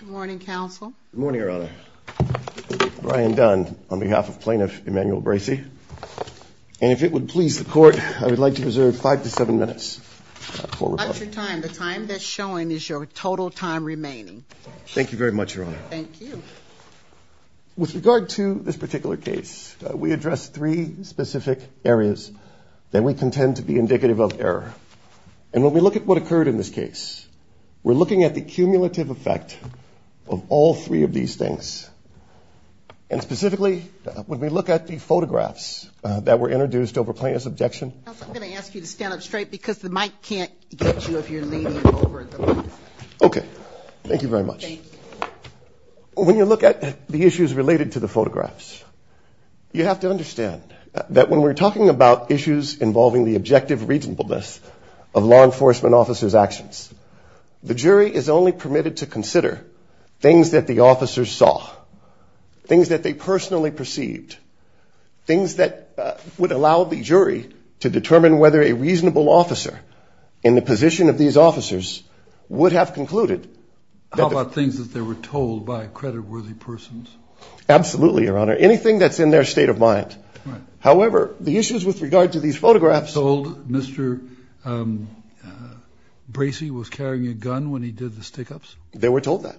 Good morning counsel. Good morning your honor. Brian Dunn on behalf of plaintiff Emmanuel Bracy and if it would please the court I would like to reserve five to seven minutes. The time that's showing is your total time remaining. Thank you very much your honor. Thank you. With regard to this particular case we addressed three specific areas that we contend to be indicative of error and when we look at what occurred in this case we're looking at the cumulative effect of all three of these things and specifically when we look at the photographs that were introduced over plaintiff's objection. I'm going to ask you to stand up straight because the mic can't get you if you're leaning over. Okay thank you very much. When you look at the issues related to the photographs you have to understand that when we're talking about issues involving the objective reasonableness of law enforcement officers actions the jury is only permitted to consider things that the officers saw, things that they personally perceived, things that would allow the jury to determine whether a reasonable officer in the position of these officers would have concluded. How about things that they were told by credit worthy persons? Absolutely your honor. Anything that's in their state of mind. However the issues with regard to these photographs. Mr. Bracy was carrying a gun when he did the take-ups. They were told that.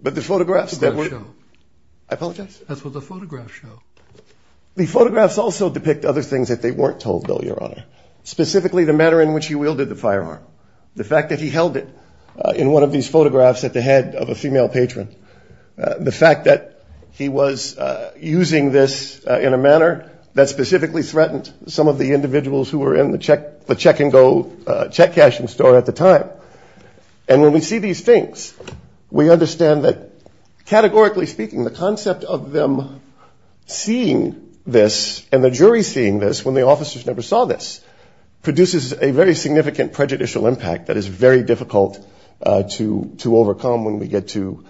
But the photographs. I apologize. That's what the photographs show. The photographs also depict other things that they weren't told though your honor. Specifically the manner in which he wielded the firearm. The fact that he held it in one of these photographs at the head of a female patron. The fact that he was using this in a manner that specifically threatened some of the individuals who were in the check the check-and-go check cashing store at the time. And when we see these things we understand that categorically speaking the concept of them seeing this and the jury seeing this when the officers never saw this produces a very significant prejudicial impact that is very difficult to to overcome when we get to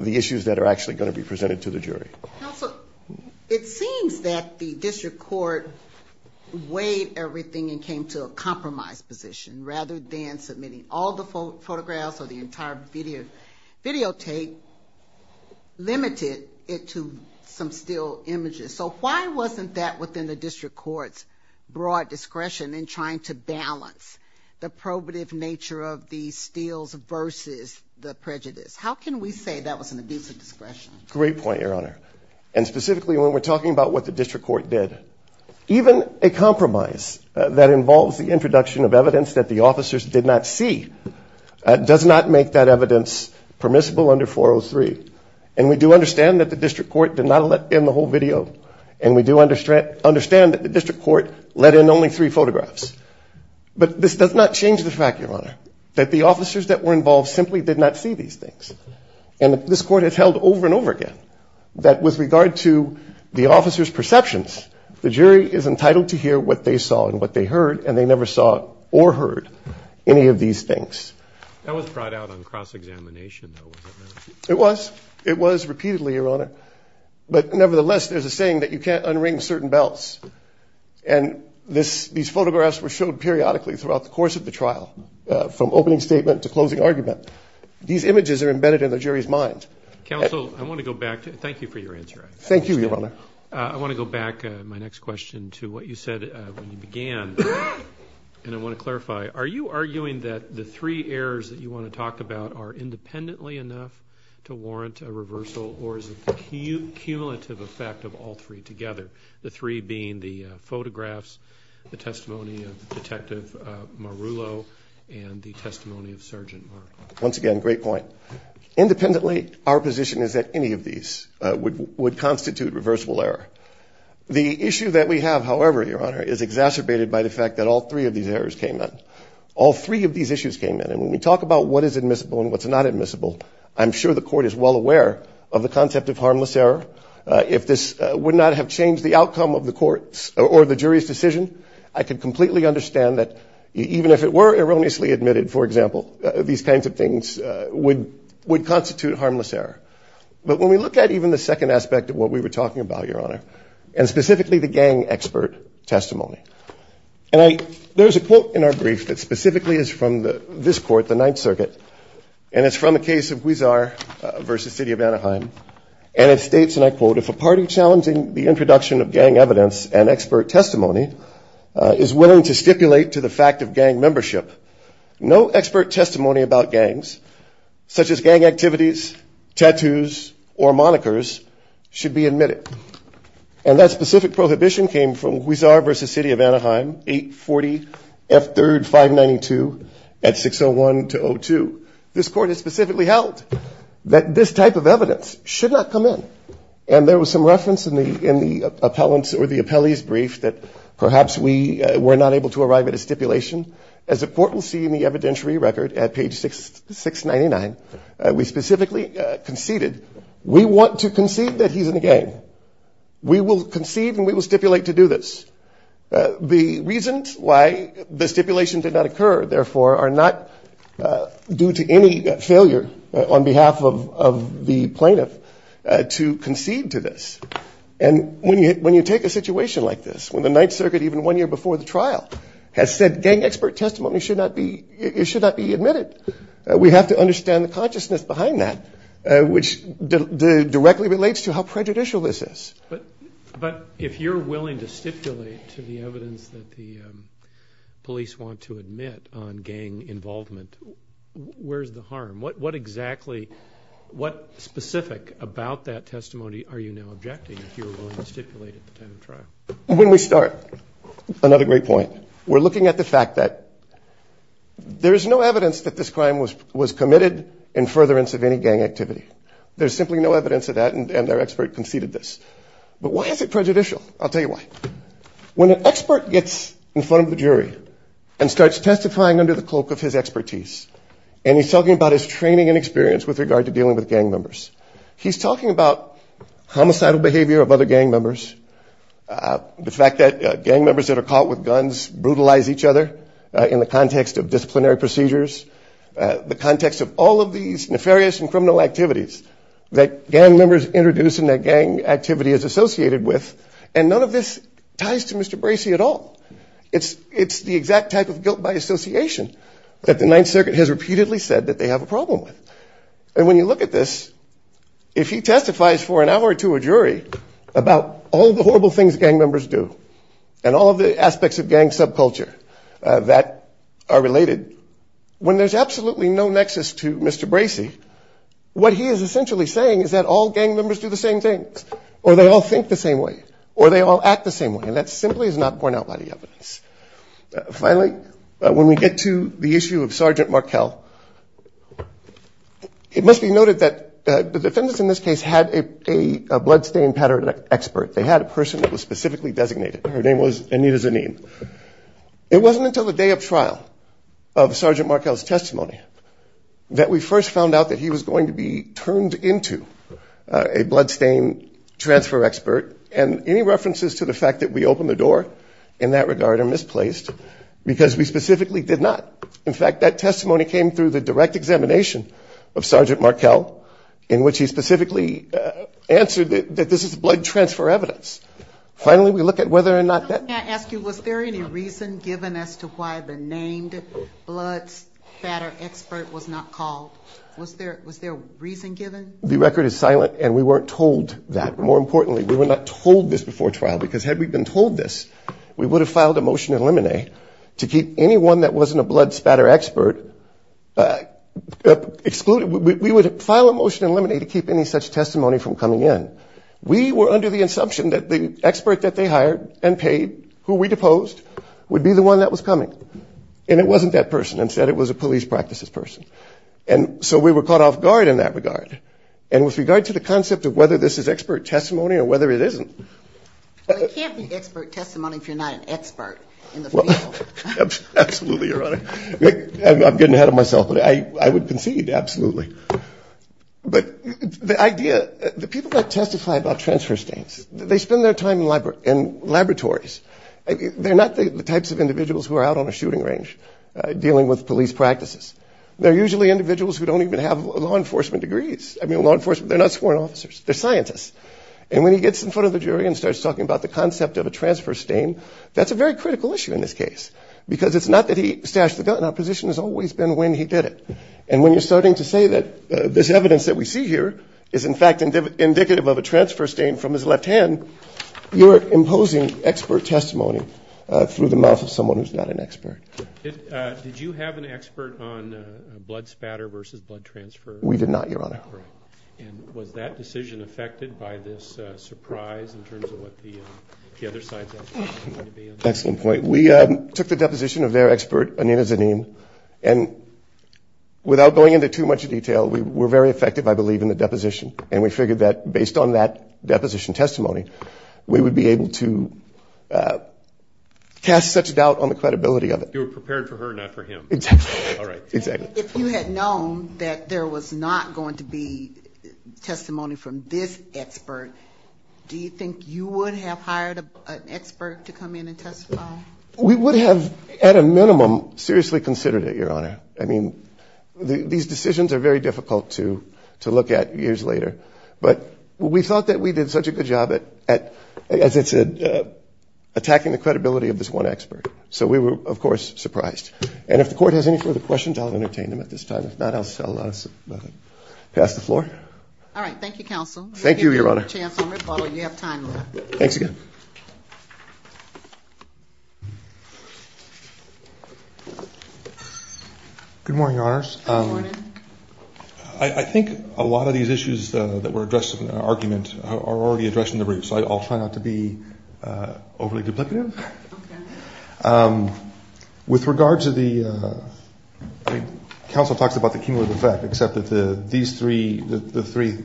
the issues that are actually going to be presented to the jury. It seems that the district court weighed everything and came to a compromise position rather than submitting all the photographs or the entire video videotape limited it to some still images. So why wasn't that within the district court's broad discretion in trying to balance the probative nature of these steals versus the prejudice? How can we say that was an abuse of discretion? Great point your honor. And specifically when we're talking about what the district court did. Even a compromise that involves the introduction of evidence that the officers did not see does not make that evidence permissible under 403. And we do understand that the district court did not let in the whole video. And we do understand that the district court let in only three photographs. But this does not change the fact your honor that the officers that were involved simply did not see these things. And this court has held over and over again that with entitled to hear what they saw and what they heard and they never saw or heard any of these things. That was brought out on cross-examination. It was it was repeatedly your honor. But nevertheless there's a saying that you can't unring certain belts. And this these photographs were showed periodically throughout the course of the trial from opening statement to closing argument. These images are embedded in the jury's mind. Counsel I want to go back to thank you for your answer. Thank you your honor. I want to go back my next question to what you said when you began. And I want to clarify are you arguing that the three errors that you want to talk about are independently enough to warrant a reversal or is it the cumulative effect of all three together? The three being the photographs, the testimony of Detective Marullo, and the testimony of Sergeant Mark. Once again great point. Independently our position is that any of these would constitute reversible error. The issue that we have however your honor is exacerbated by the fact that all three of these errors came in. All three of these issues came in. And when we talk about what is admissible and what's not admissible I'm sure the court is well aware of the concept of harmless error. If this would not have changed the outcome of the courts or the jury's decision I could completely understand that even if it were erroneously admitted for example these kinds of things would would constitute harmless error. But when we look at even the second aspect of what we were talking about your honor and specifically the gang expert testimony. And I there's a quote in our brief that specifically is from the this court the Ninth Circuit and it's from a case of Huizar versus City of Anaheim and it states and I quote if a party challenging the introduction of gang evidence and expert testimony is willing to stipulate to the fact of gang membership no expert testimony about gangs such as gang activities tattoos or monikers should be admitted. And that specific prohibition came from Huizar versus City of Anaheim 840 F 3rd 592 at 601 to 02. This court has specifically held that this type of evidence should not come in. And there was some reference in the in the appellants or the appellee's brief that perhaps we were not able to arrive at a stipulation. As the court will see in the evidentiary record at page 6 699 we specifically conceded we want to concede that he's in the gang. We will concede and we will stipulate to do this. The reasons why the stipulation did not occur therefore are not due to any failure on behalf of the plaintiff to concede to this. And when you when you take a situation like this when the gang expert testimony should not be it should not be admitted. We have to understand the consciousness behind that which directly relates to how prejudicial this is. But if you're willing to stipulate to the evidence that the police want to admit on gang involvement where's the harm? What exactly what specific about that testimony are you now objecting if you were willing to stipulate at the time of trial? When we start, another great point, we're talking about the fact that there's no evidence that this crime was was committed in furtherance of any gang activity. There's simply no evidence of that and their expert conceded this. But why is it prejudicial? I'll tell you why. When an expert gets in front of the jury and starts testifying under the cloak of his expertise and he's talking about his training and experience with regard to dealing with gang members, he's talking about homicidal behavior of other gang members, the fact that gang members that are caught with guns brutalize each other in the context of disciplinary procedures, the context of all of these nefarious and criminal activities that gang members introduce in their gang activity is associated with and none of this ties to Mr. Bracey at all. It's it's the exact type of guilt by association that the Ninth Circuit has repeatedly said that they have a problem with. And when you look at this, if he testifies for an hour to a jury about all the horrible things gang members do and all of the aspects of gang subculture that are related, when there's absolutely no nexus to Mr. Bracey, what he is essentially saying is that all gang members do the same things or they all think the same way or they all act the same way and that simply is not borne out by the evidence. Finally, when we get to the issue of Sergeant Markell, it must be noted that the defendants in this case had a bloodstain pattern expert. They had a person that was specifically designated. Her name was Anita Zanin. It wasn't until the day of trial of Sergeant Markell's testimony that we first found out that he was going to be turned into a bloodstain transfer expert and any references to the fact that we opened the door in that regard are misplaced because we specifically did not. In fact, that testimony came through the direct examination of Sergeant Markell in which he specifically answered that this is blood transfer evidence. Finally, we look at whether or not... Can I ask you was there any reason given as to why the named blood spatter expert was not called? Was there reason given? The record is silent and we weren't told that. More importantly, we were not told this before trial because had we been told this, we would have filed a motion to eliminate to keep anyone that wasn't a blood spatter expert excluded. We would file a motion to eliminate to keep any such testimony from coming in. We were under the assumption that the expert that they hired and paid, who we deposed, would be the one that was coming. And it wasn't that person. Instead, it was a police practices person. And so we were caught off guard in that regard. And with regard to the concept of whether this is expert testimony or whether it isn't... Well, it can't be expert testimony if you're not an expert. Absolutely, Your Honor. I'm getting ahead of myself, but I would argue that the people that testify about transfer stains, they spend their time in laboratories. They're not the types of individuals who are out on a shooting range dealing with police practices. They're usually individuals who don't even have law enforcement degrees. I mean, law enforcement, they're not sworn officers. They're scientists. And when he gets in front of the jury and starts talking about the concept of a transfer stain, that's a very critical issue in this case because it's not that he stashed the gun. Our position has always been when he did it. And when you're starting to say that this is, in fact, indicative of a transfer stain from his left hand, you're imposing expert testimony through the mouth of someone who's not an expert. Did you have an expert on blood spatter versus blood transfer? We did not, Your Honor. And was that decision affected by this surprise in terms of what the other side's experts were going to be on? Excellent point. We took the deposition of their expert, Anina Zanim, and without going into too much detail, we were very effective, I believe, in the deposition. And we figured that based on that deposition testimony, we would be able to cast such doubt on the credibility of it. You were prepared for her, not for him. Exactly. If you had known that there was not going to be testimony from this expert, do you think you would have hired an expert to come in and testify? We would have, at a minimum, seriously considered it, Your Honor. But we thought that we did such a good job at, as I said, attacking the credibility of this one expert. So we were, of course, surprised. And if the Court has any further questions, I'll entertain them at this time. If not, I'll pass the floor. All right. Thank you, Counsel. Thank you, Your Honor. Chancellor McFarland, you have time left. Thanks again. Good morning, Your Honors. Good morning. I think a lot of these issues that were addressed in the argument are already addressed in the brief, so I'll try not to be overly duplicative. Okay. With regard to the, I mean, Counsel talks about the cumulative effect, except that these three, the three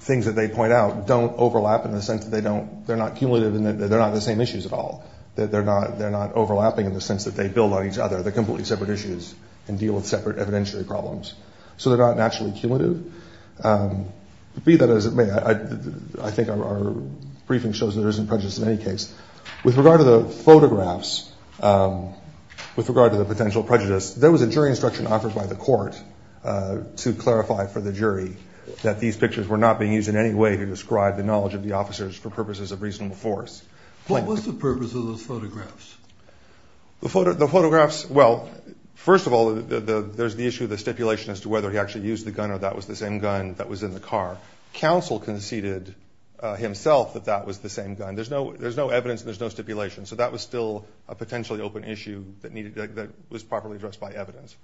things that they point out don't overlap in the sense that they don't, they're not cumulative in that they're not the same issues at all. They're not overlapping in the sense that they build on each other. They're completely separate issues and deal with separate evidentiary problems. So they're not naturally cumulative. Be that as it may, I think our briefing shows there isn't prejudice in any case. With regard to the photographs, with regard to the potential prejudice, there was a jury instruction offered by the Court to clarify for the jury that these pictures were not being used in any way to describe the knowledge of the officers for purposes of reasonable force. What was the purpose of those photographs? The photographs, well, first of all, there's the issue of the stipulation as to whether he actually used the gun or that was the same gun that was in the car. Counsel conceded himself that that was the same gun. There's no, there's no evidence, there's no stipulation, so that was still a potentially open issue that needed, that was properly addressed by evidence.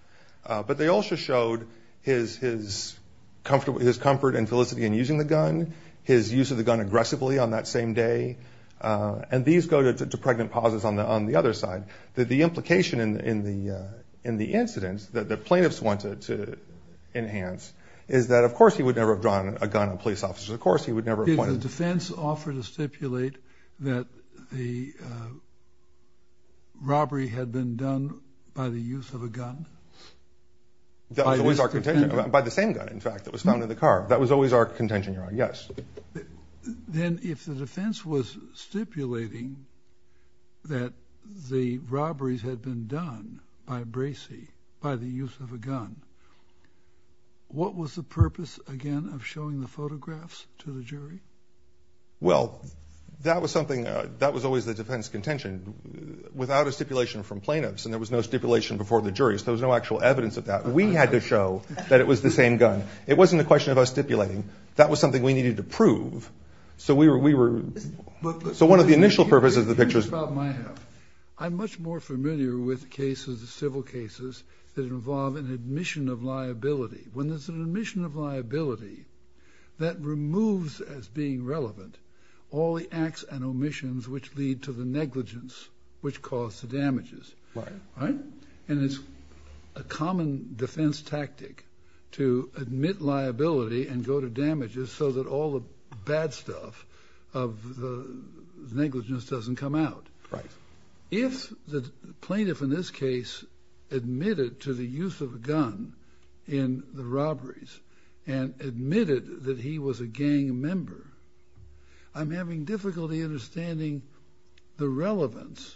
But they also showed his, his comfortable, his comfort and felicity in using the gun, his use of the gun aggressively on that same day, and these go to pregnant pauses on the, on the other side. That the implication in, in the, in the incidents that the plaintiffs wanted to enhance is that, of course, he would never have drawn a gun on police officers. Of course, he would never have pointed. Did the defense offer to stipulate that the robbery had been done by the use of a gun? That was our contention, by the same gun, in fact, that was found in the car. That was always our contention, yes. Then if the defense was stipulating that the robberies had been done by Bracey, by the use of a gun, what was the purpose, again, of showing the photographs to the jury? Well, that was something, that was always the defense contention. Without a stipulation from plaintiffs, and there was no stipulation before the jury, so there was no actual evidence of that. We had to stipulate. That was something we needed to prove, so we were, we were, so one of the initial purposes of the pictures... I'm much more familiar with cases, civil cases, that involve an admission of liability. When there's an admission of liability, that removes, as being relevant, all the acts and omissions which lead to the negligence which caused the damages. Right. Right? And it's a common defense tactic to admit liability and go to damages so that all the bad stuff of the negligence doesn't come out. Right. If the plaintiff, in this case, admitted to the use of a gun in the robberies, and admitted that he was a gang member, I'm having difficulty understanding the relevance.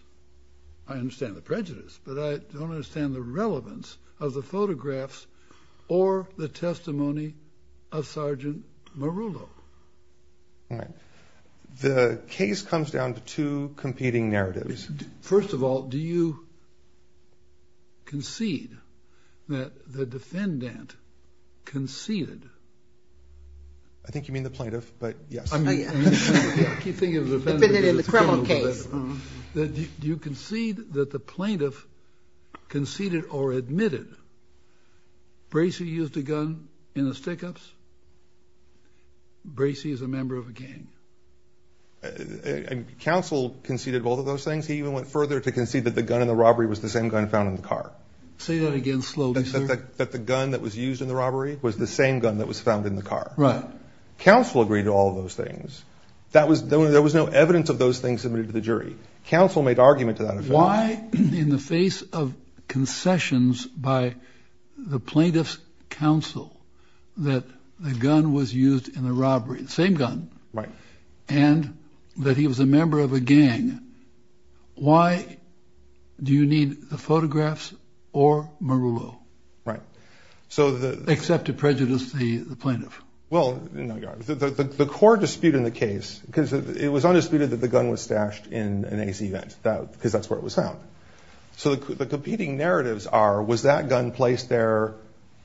I understand the prejudice, but I don't understand the relevance of the photographs or the testimony of Sergeant Marullo. Right. The case comes down to two competing narratives. First of all, do you concede that the defendant conceded? I think you mean the plaintiff, but yes. I mean, I keep thinking of the defendant in the criminal case. Do you concede that the plaintiff conceded or admitted Bracey used a gun in the stick-ups? Bracey is a member of a gang. Counsel conceded both of those things. He even went further to concede that the gun in the robbery was the same gun found in the car. Say that again slowly, sir. That the gun that was used in the robbery was the same gun that was found in the car. Right. Counsel agreed to all those things. There was no evidence of those things submitted to the jury. Counsel made argument to that. Why, in the face of concessions by the plaintiff's counsel, that the gun was used in the robbery, the same gun, and that he was a member of a gang, why do you need the photographs or Marullo? Right. Except to prejudice the case because it was undisputed that the gun was stashed in an A.C. vent because that's where it was found. So the competing narratives are, was that gun placed there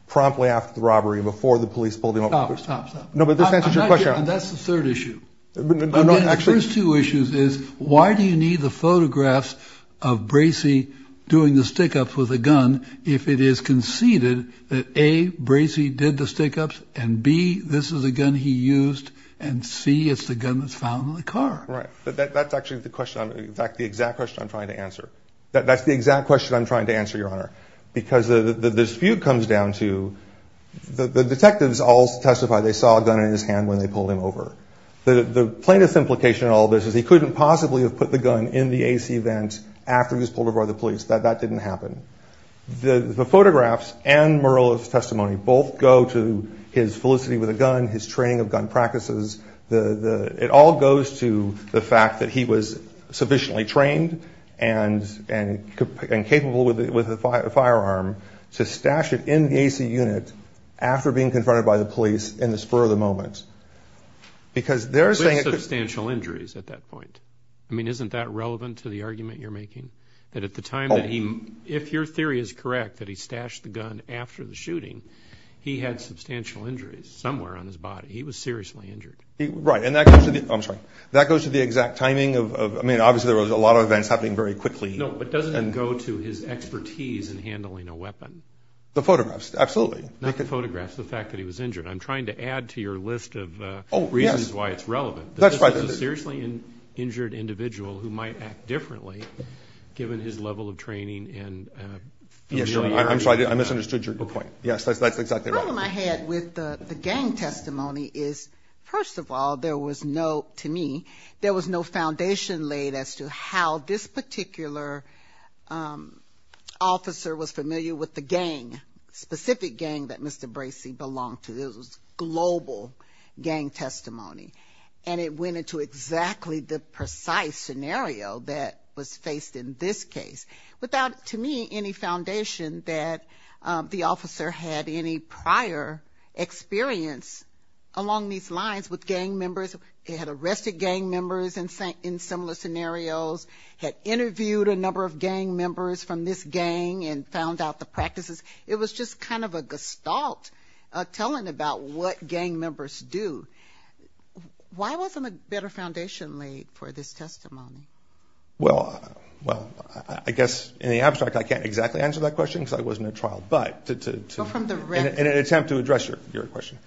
promptly after the robbery before the police pulled him up? No, but this answers your question. That's the third issue. The first two issues is, why do you need the photographs of Bracey doing the stick-ups with a gun if it is conceded that A, Bracey did the stick-ups, and B, this is a gun he used, and C, it's the gun that's found in the car? Right. That's actually the question. In fact, the exact question I'm trying to answer. That's the exact question I'm trying to answer, Your Honor, because the dispute comes down to the detectives all testify they saw a gun in his hand when they pulled him over. The plaintiff's implication in all this is he couldn't possibly have put the gun in the A.C. vent after he was pulled over by the police. That didn't happen. The photographs and Murillo's testimony both go to his felicity with a gun, his training of gun practices. It all goes to the fact that he was sufficiently trained and capable with a firearm to stash it in the A.C. unit after being confronted by the police in the spur of the moment. Because they're saying... With substantial injuries at that point. I mean, isn't that relevant to the argument you're making? That at the time that he, if your theory is correct, that he stashed the gun after the shooting, he had substantial injuries somewhere on his body. He was seriously injured. Right, and that goes to the, I'm sorry, that goes to the exact timing of, I mean, obviously there was a lot of events happening very quickly. No, but doesn't it go to his expertise in handling a weapon? The photographs, absolutely. Not the photographs, the fact that he was injured. I'm trying to add to your list of reasons why it's given his level of training and... Yes, I'm sorry, I misunderstood your point. Yes, that's exactly right. The problem I had with the gang testimony is, first of all, there was no, to me, there was no foundation laid as to how this particular officer was familiar with the gang, specific gang that Mr. Bracey belonged to. It was global gang testimony. And it went into exactly the same way that was faced in this case, without, to me, any foundation that the officer had any prior experience along these lines with gang members. He had arrested gang members in similar scenarios, had interviewed a number of gang members from this gang and found out the practices. It was just kind of a gestalt, a telling about what gang members do. Why wasn't a better foundation laid for this testimony? Well, I guess, in the abstract, I can't exactly answer that question, because I wasn't at trial, but to... Go from the rest... In an attempt to address your question.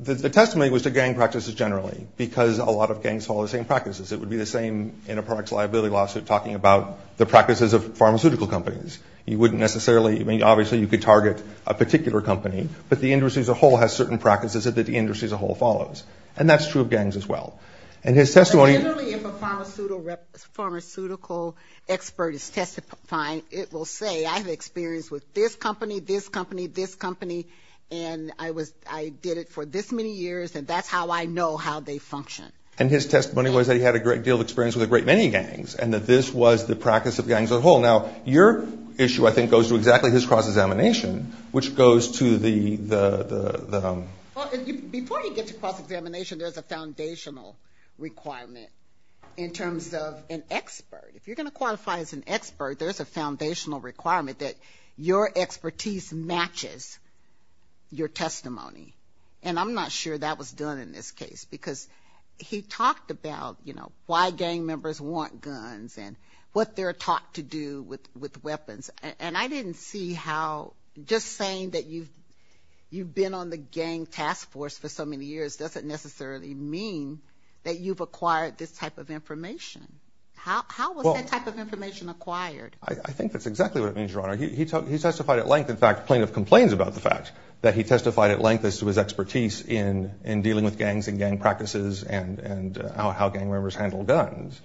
The testimony was to gang practices generally, because a lot of gangs follow the same practices. It would be the same in a products liability lawsuit, talking about the practices of pharmaceutical companies. You wouldn't necessarily, I mean, obviously, you could target a particular company, but the industry as a whole has certain practices that the industry as a whole follows. And that's true of all. And his testimony... Generally, if a pharmaceutical expert is testifying, it will say, I have experience with this company, this company, this company, and I did it for this many years, and that's how I know how they function. And his testimony was that he had a great deal of experience with a great many gangs, and that this was the practice of gangs as a whole. Now, your issue, I think, goes to exactly his cross-examination, which goes to the... Before you get to cross-examination, there's a foundational requirement in terms of an expert. If you're going to qualify as an expert, there's a foundational requirement that your expertise matches your testimony. And I'm not sure that was done in this case, because he talked about, you know, why gang members want guns and what they're taught to do with weapons. And I didn't see how just saying that you've been on the gang task force for so many years doesn't necessarily mean that you've acquired this type of information. How was that type of information acquired? I think that's exactly what it means, Your Honor. He testified at length. In fact, plaintiff complains about the fact that he testified at length as to his expertise in dealing with gangs and gang practices and how gang members handle guns.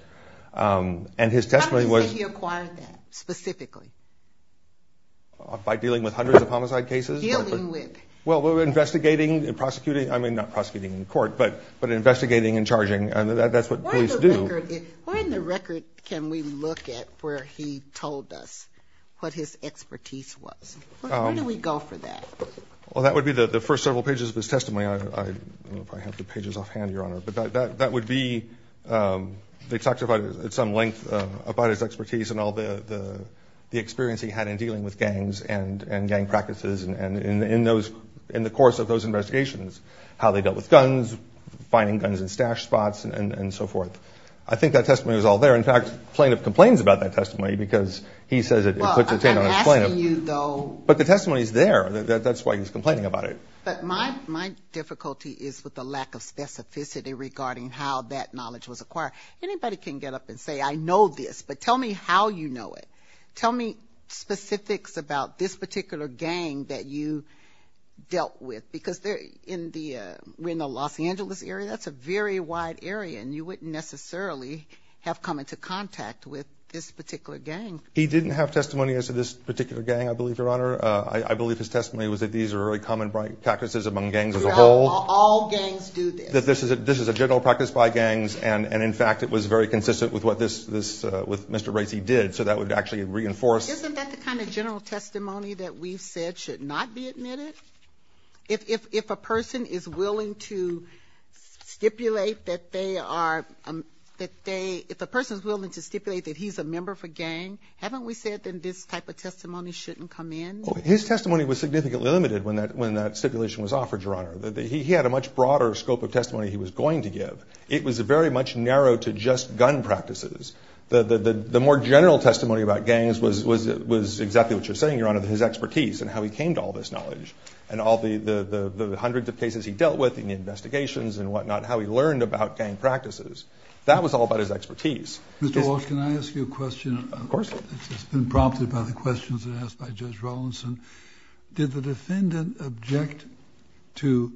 And his testimony was... How do you say he acquired that, specifically? By dealing with hundreds of homicide cases. Dealing with? Well, we were investigating and prosecuting. I mean, not prosecuting in court, but investigating and charging. And that's what police do. Where in the record can we look at where he told us what his expertise was? Where do we go for that? Well, that would be the first several pages of his testimony. I don't know if I have the pages offhand, Your Honor. But that would be... He testified at some length about his expertise and all the experience he had in dealing with gangs and gang practices in the course of those investigations. How they dealt with guns, finding guns in stash spots, and so forth. I think that testimony was all there. In fact, plaintiff complains about that testimony because he says it puts a taint on his plaintiff. Well, I'm asking you, though... But the testimony's there. That's why he's complaining about it. But my difficulty is with the lack of specificity regarding how that knowledge was acquired. Anybody can get up and say, I know this, but tell me how you know it. Tell me specifics about this particular gang that you dealt with. Because they're in the Los Angeles area. That's a very wide area, and you wouldn't necessarily have come into contact with this particular gang. He didn't have testimony as to this particular gang, I believe, Your Honor. I All gangs do this. This is a general practice by gangs, and in fact, it was very consistent with what Mr. Racey did. So that would actually reinforce... Isn't that the kind of general testimony that we've said should not be admitted? If a person is willing to stipulate that they are... If a person's willing to stipulate that he's a member of a gang, haven't we said that this type of testimony shouldn't come in? His testimony was significantly limited when that stipulation was offered, Your Honor. He had a much broader scope of testimony he was going to give. It was very much narrow to just gun practices. The more general testimony about gangs was exactly what you're saying, Your Honor, his expertise and how he came to all this knowledge, and all the hundreds of cases he dealt with in the investigations and whatnot, how he learned about gang practices. That was all about his expertise. Mr. Walsh, can I ask you a question? Of course. It's been prompted by the questions that were asked by Judge Rollinson. Did the defendant object to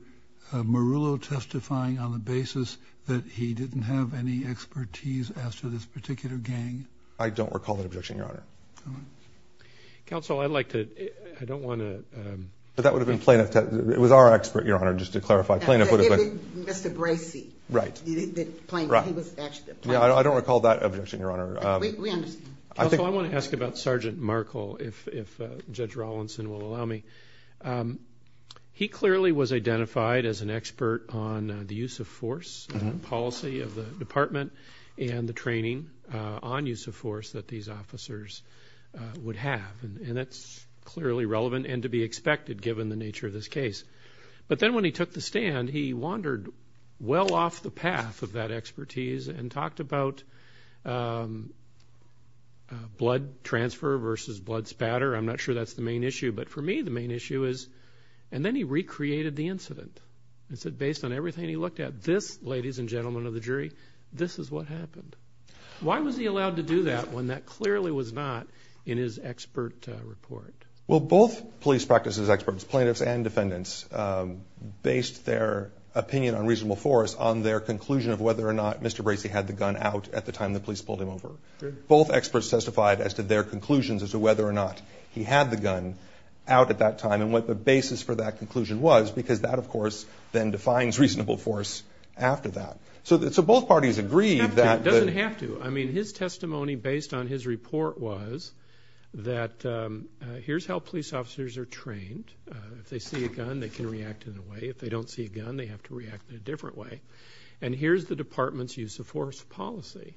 Marullo testifying on the basis that he didn't have any expertise as to this particular gang? I don't recall that objection, Your Honor. Counsel, I'd like to... I don't want to... But that would have been plaintiff... It was our expert, Your Honor, just to clarify. Plaintiff would have been... Mr. Bracey. Right. He was actually a plaintiff. I don't recall that objection, Your Honor. We understand. Counsel, I want to ask about Sergeant Markell, if Judge Rollinson will allow me. He clearly was identified as an expert on the use of force, the policy of the department, and the training on use of force that these officers would have. And that's clearly relevant and to be expected, given the nature of this case. But then when he took the stand, he wandered well off the path of that blood transfer versus blood spatter. I'm not sure that's the main issue. But for me, the main issue is... And then he recreated the incident and said, based on everything he looked at, this, ladies and gentlemen of the jury, this is what happened. Why was he allowed to do that when that clearly was not in his expert report? Well, both police practices experts, plaintiffs and defendants, based their opinion on reasonable force on their conclusion of whether or not Mr. Bracey had the gun out at the time the police pulled him over. Both experts testified as to their conclusions as to whether or not he had the gun out at that time and what the basis for that conclusion was because that, of course, then defines reasonable force after that. So both parties agreed that... It doesn't have to. I mean, his testimony based on his report was that here's how police officers are trained. If they see a gun, they can react in a way. If they don't see a gun, they have to react in a different way. And here's the department's use of force policy.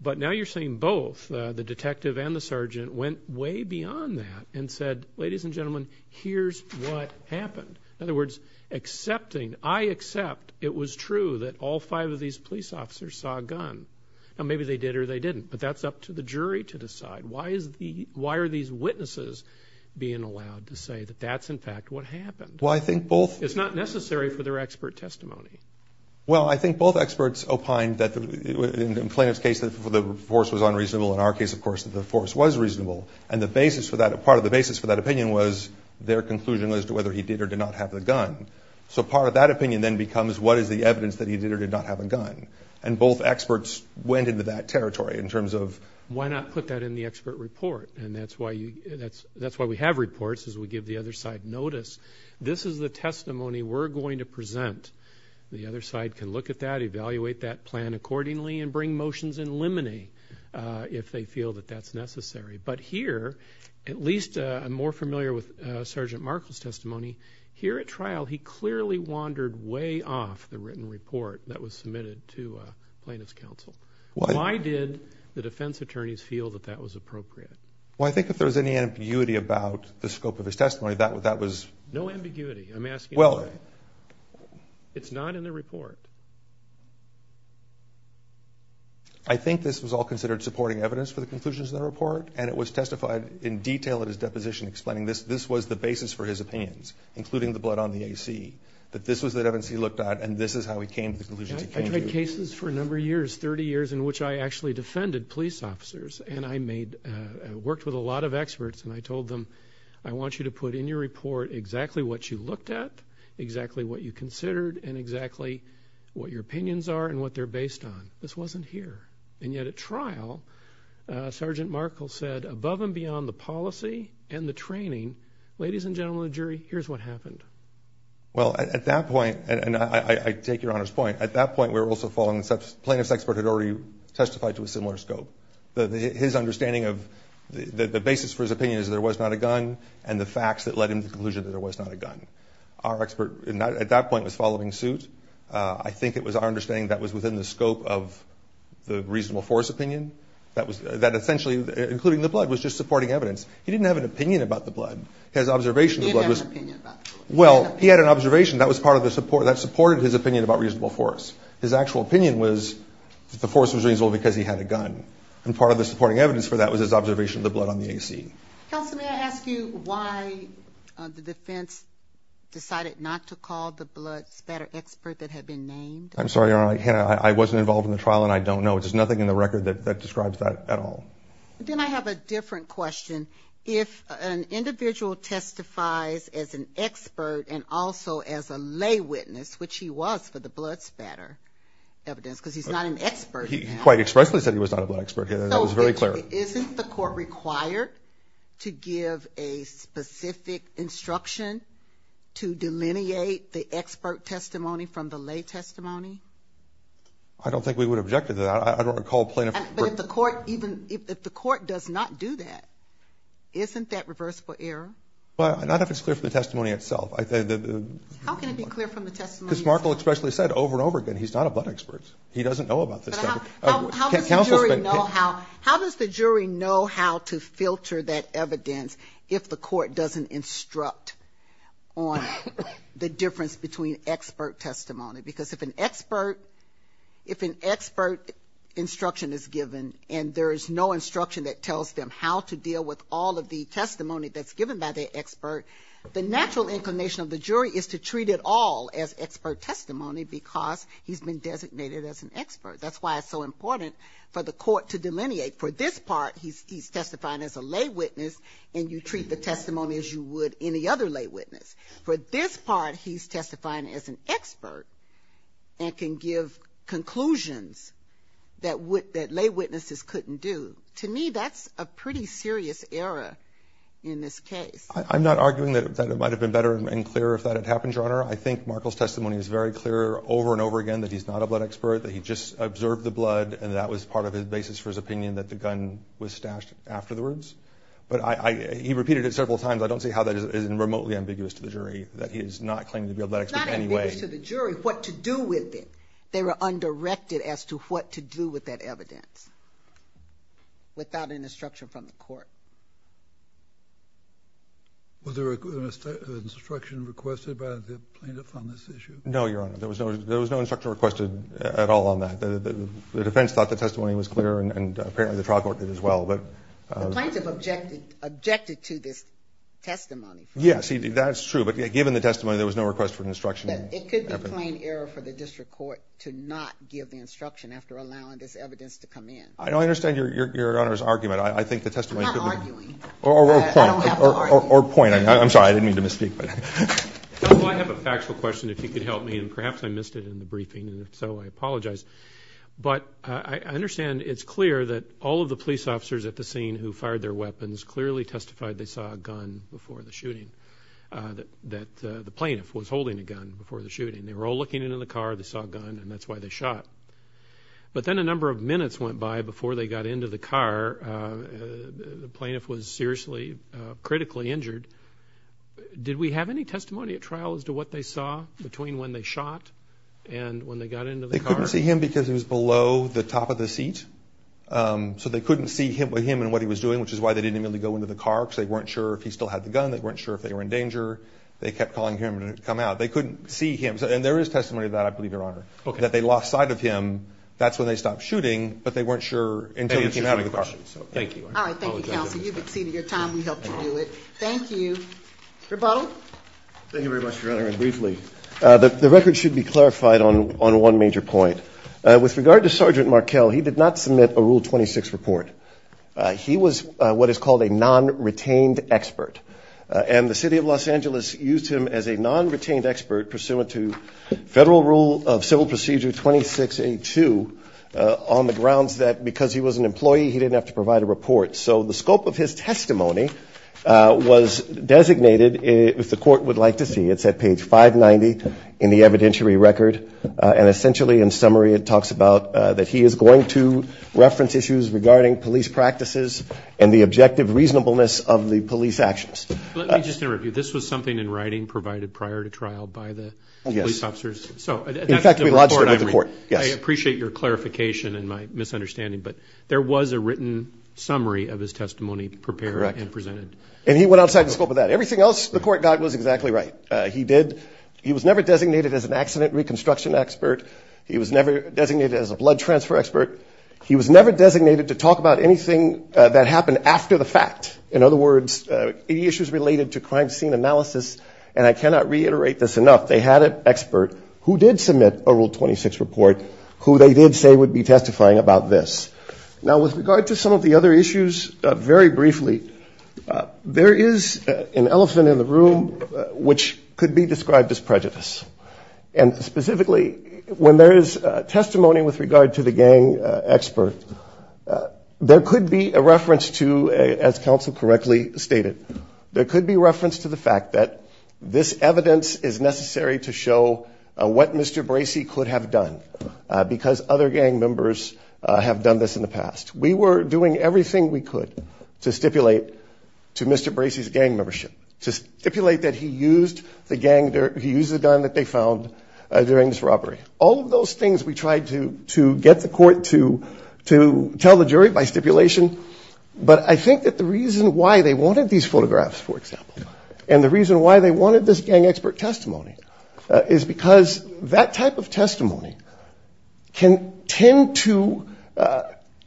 But now you're saying both, the detective and the sergeant, went way beyond that and said, ladies and gentlemen, here's what happened. In other words, accepting, I accept it was true that all five of these police officers saw a gun. Now, maybe they did or they didn't, but that's up to the jury to decide. Why are these witnesses being allowed to say that that's, in fact, what happened? Well, I think both... It's not necessary for their expert testimony. Well, I think both experts opined that, in the plaintiff's case, the force was unreasonable. In our case, of course, the force was reasonable. And the basis for that, part of the basis for that opinion was their conclusion as to whether he did or did not have the gun. So part of that opinion then becomes what is the evidence that he did or did not have a gun. And both experts went into that territory in terms of... Why not put that in the expert report? And that's why we have reports is we give the other side notice. This is the testimony we're going to present. The other side can look at that, evaluate that plan accordingly, and bring motions and eliminate if they feel that that's necessary. But here, at least I'm more familiar with Sergeant Markle's testimony, here at trial he clearly wandered way off the written report that was submitted to plaintiff's counsel. Why did the defense attorneys feel that that was appropriate? Well, I think if there was any ambiguity about the scope of his testimony, that was... No ambiguity, I'm asking. It's not in the report. I think this was all considered supporting evidence for the conclusions in the report, and it was testified in detail in his deposition explaining this was the basis for his opinions, including the blood on the AC, that this was the evidence he looked at, and this is how he came to the conclusions he came to. I tried cases for a number of years, 30 years, in which I actually defended police officers. And I worked with a lot of experts, and I told them, I want you to put in your report exactly what you looked at, exactly what you considered, and exactly what your opinions are and what they're based on. This wasn't here. And yet, at trial, Sergeant Markle said, above and beyond the policy and the training, ladies and gentlemen of the jury, here's what happened. Well, at that point, and I take your Honor's point, at that point we were also following... The plaintiff's expert had already testified to a similar scope. His understanding of the basis for his opinion is there was not a gun, and the facts that led him to the conclusion that there was not a gun. Our expert at that point was following suit. I think it was our understanding that was within the scope of the reasonable force opinion, that essentially, including the blood, was just supporting evidence. He didn't have an opinion about the blood. His observation of the blood was... He didn't have an opinion about the blood. Well, he had an observation. That was part of the support. That supported his opinion about reasonable force. His actual opinion was that the force was reasonable because he had a gun. And part of the supporting evidence for that was his observation of the blood on the AC. Counsel, may I ask you why the defense decided not to call the blood spatter expert that had been named? I'm sorry, Your Honor. I wasn't involved in the trial, and I don't know. There's nothing in the record that describes that at all. Then I have a different question. If an individual testifies as an expert and also as a lay witness, which he was for the blood spatter evidence because he's not an expert. He quite expressly said he was not a blood expert. That was very clear. Isn't the court required to give a specific instruction to delineate the expert testimony from the lay testimony? I don't think we would object to that. I don't recall plaintiff... But if the court does not do that, isn't that reverse for error? Not if it's clear from the testimony itself. How can it be clear from the testimony itself? Because Markle expressly said over and over again he's not a blood expert. He doesn't know about this stuff. But how does the jury know how to filter that evidence if the court doesn't instruct on the difference between expert testimony? Because if an expert instruction is given and there is no instruction that tells them how to deal with all of the testimony that's given by the expert, the natural inclination of the jury is to treat it all as expert testimony because he's been designated as an expert. That's why it's so important for the court to delineate. For this part, he's testifying as a lay witness, and you treat the testimony as you would any other lay witness. For this part, he's testifying as an expert and can give conclusions that lay witnesses couldn't do. To me, that's a pretty serious error in this case. I'm not arguing that it might have been better and clearer if that had happened, Your Honor. I think Markle's testimony is very clear over and over again that he's not a blood expert, that he just observed the blood and that was part of the basis for his opinion that the gun was stashed afterwards. But he repeated it several times. I don't see how that isn't remotely ambiguous to the jury, that he is not claiming to be a blood expert anyway. It's not ambiguous to the jury what to do with it. They were undirected as to what to do with that evidence without an instruction from the court. Was there an instruction requested by the plaintiff on this issue? No, Your Honor. There was no instruction requested at all on that. The defense thought the testimony was clear, and apparently the trial court did as well. The plaintiff objected to this testimony. Yes, that's true. But given the testimony, there was no request for instruction. It could be plain error for the district court to not give the instruction after allowing this evidence to come in. I understand Your Honor's argument. I'm not arguing. Or point. I'm sorry. I didn't mean to misspeak. I have a factual question, if you could help me, and perhaps I missed it in the briefing, and if so, I apologize. But I understand it's clear that all of the police officers at the scene who fired their weapons clearly testified they saw a gun before the shooting, that the plaintiff was holding a gun before the shooting. They were all looking into the car. They saw a gun, and that's why they shot. But then a number of minutes went by before they got into the car. The plaintiff was seriously, critically injured. Did we have any testimony at trial as to what they saw between when they shot and when they got into the car? They couldn't see him because he was below the top of the seat. So they couldn't see him and what he was doing, which is why they didn't immediately go into the car because they weren't sure if he still had the gun. They weren't sure if they were in danger. They kept calling him to come out. They couldn't see him. And there is testimony of that, I believe, Your Honor, that they lost sight of him. That's when they stopped shooting, but they weren't sure until they came out of the car. Thank you. All right. Thank you, counsel. You've exceeded your time. We helped you do it. Thank you. Rebuttal. Thank you very much, Your Honor. And briefly, the record should be clarified on one major point. With regard to Sergeant Markell, he did not submit a Rule 26 report. He was what is called a non-retained expert. And the city of Los Angeles used him as a non-retained expert pursuant to Federal Rule of Civil Procedure 2682 on the grounds that because he was an employee, he didn't have to provide a report. So the scope of his testimony was designated, if the court would like to see, it's at page 590 in the evidentiary record, and essentially in summary it talks about that he is going to reference issues regarding police practices and the objective reasonableness of the police actions. Let me just interrupt you. This was something in writing provided prior to trial by the police officers? Yes. In fact, we lodged it with the court. I appreciate your clarification and my misunderstanding, but there was a written summary of his testimony prepared and presented. Correct. And he went outside the scope of that. Everything else the court got was exactly right. He was never designated as an accident reconstruction expert. He was never designated as a blood transfer expert. He was never designated to talk about anything that happened after the fact. In other words, any issues related to crime scene analysis, and I cannot reiterate this enough, they had an expert who did submit a Rule 26 report who they did say would be testifying about this. Now, with regard to some of the other issues, very briefly, there is an elephant in the room which could be described as prejudice. And specifically, when there is testimony with regard to the gang expert, there could be a reference to, as counsel correctly stated, there could be reference to the fact that this evidence is necessary to show what Mr. Bracey could have done, because other gang members have done this in the past. We were doing everything we could to stipulate to Mr. Bracey's gang membership, to stipulate that he used the gun that they found during this robbery. All of those things we tried to get the court to tell the jury by stipulation, but I think that the reason why they wanted these photographs, for example, and the reason why they wanted this gang expert testimony is because that type of testimony can tend to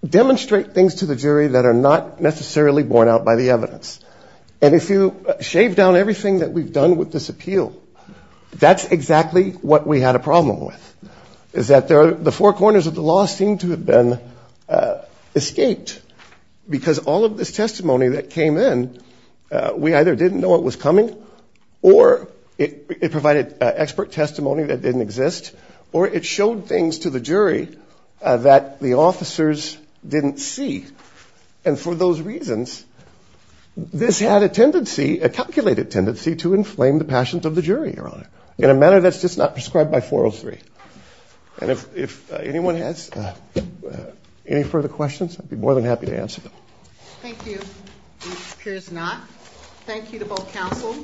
demonstrate things to the jury that are not necessarily borne out by the evidence. And if you shave down everything that we've done with this appeal, that's exactly what we had a problem with, is that the four corners of the law seem to have been escaped, because all of this testimony that came in, we either didn't know it was coming, or it provided expert testimony that didn't exist, or it showed things to the jury that the officers didn't see. And for those reasons, this had a tendency, a calculated tendency, to inflame the passions of the jury, Your Honor, in a manner that's just not prescribed by 403. And if anyone has any further questions, I'd be more than happy to answer them. Thank you. It appears not. Thank you to both counsel.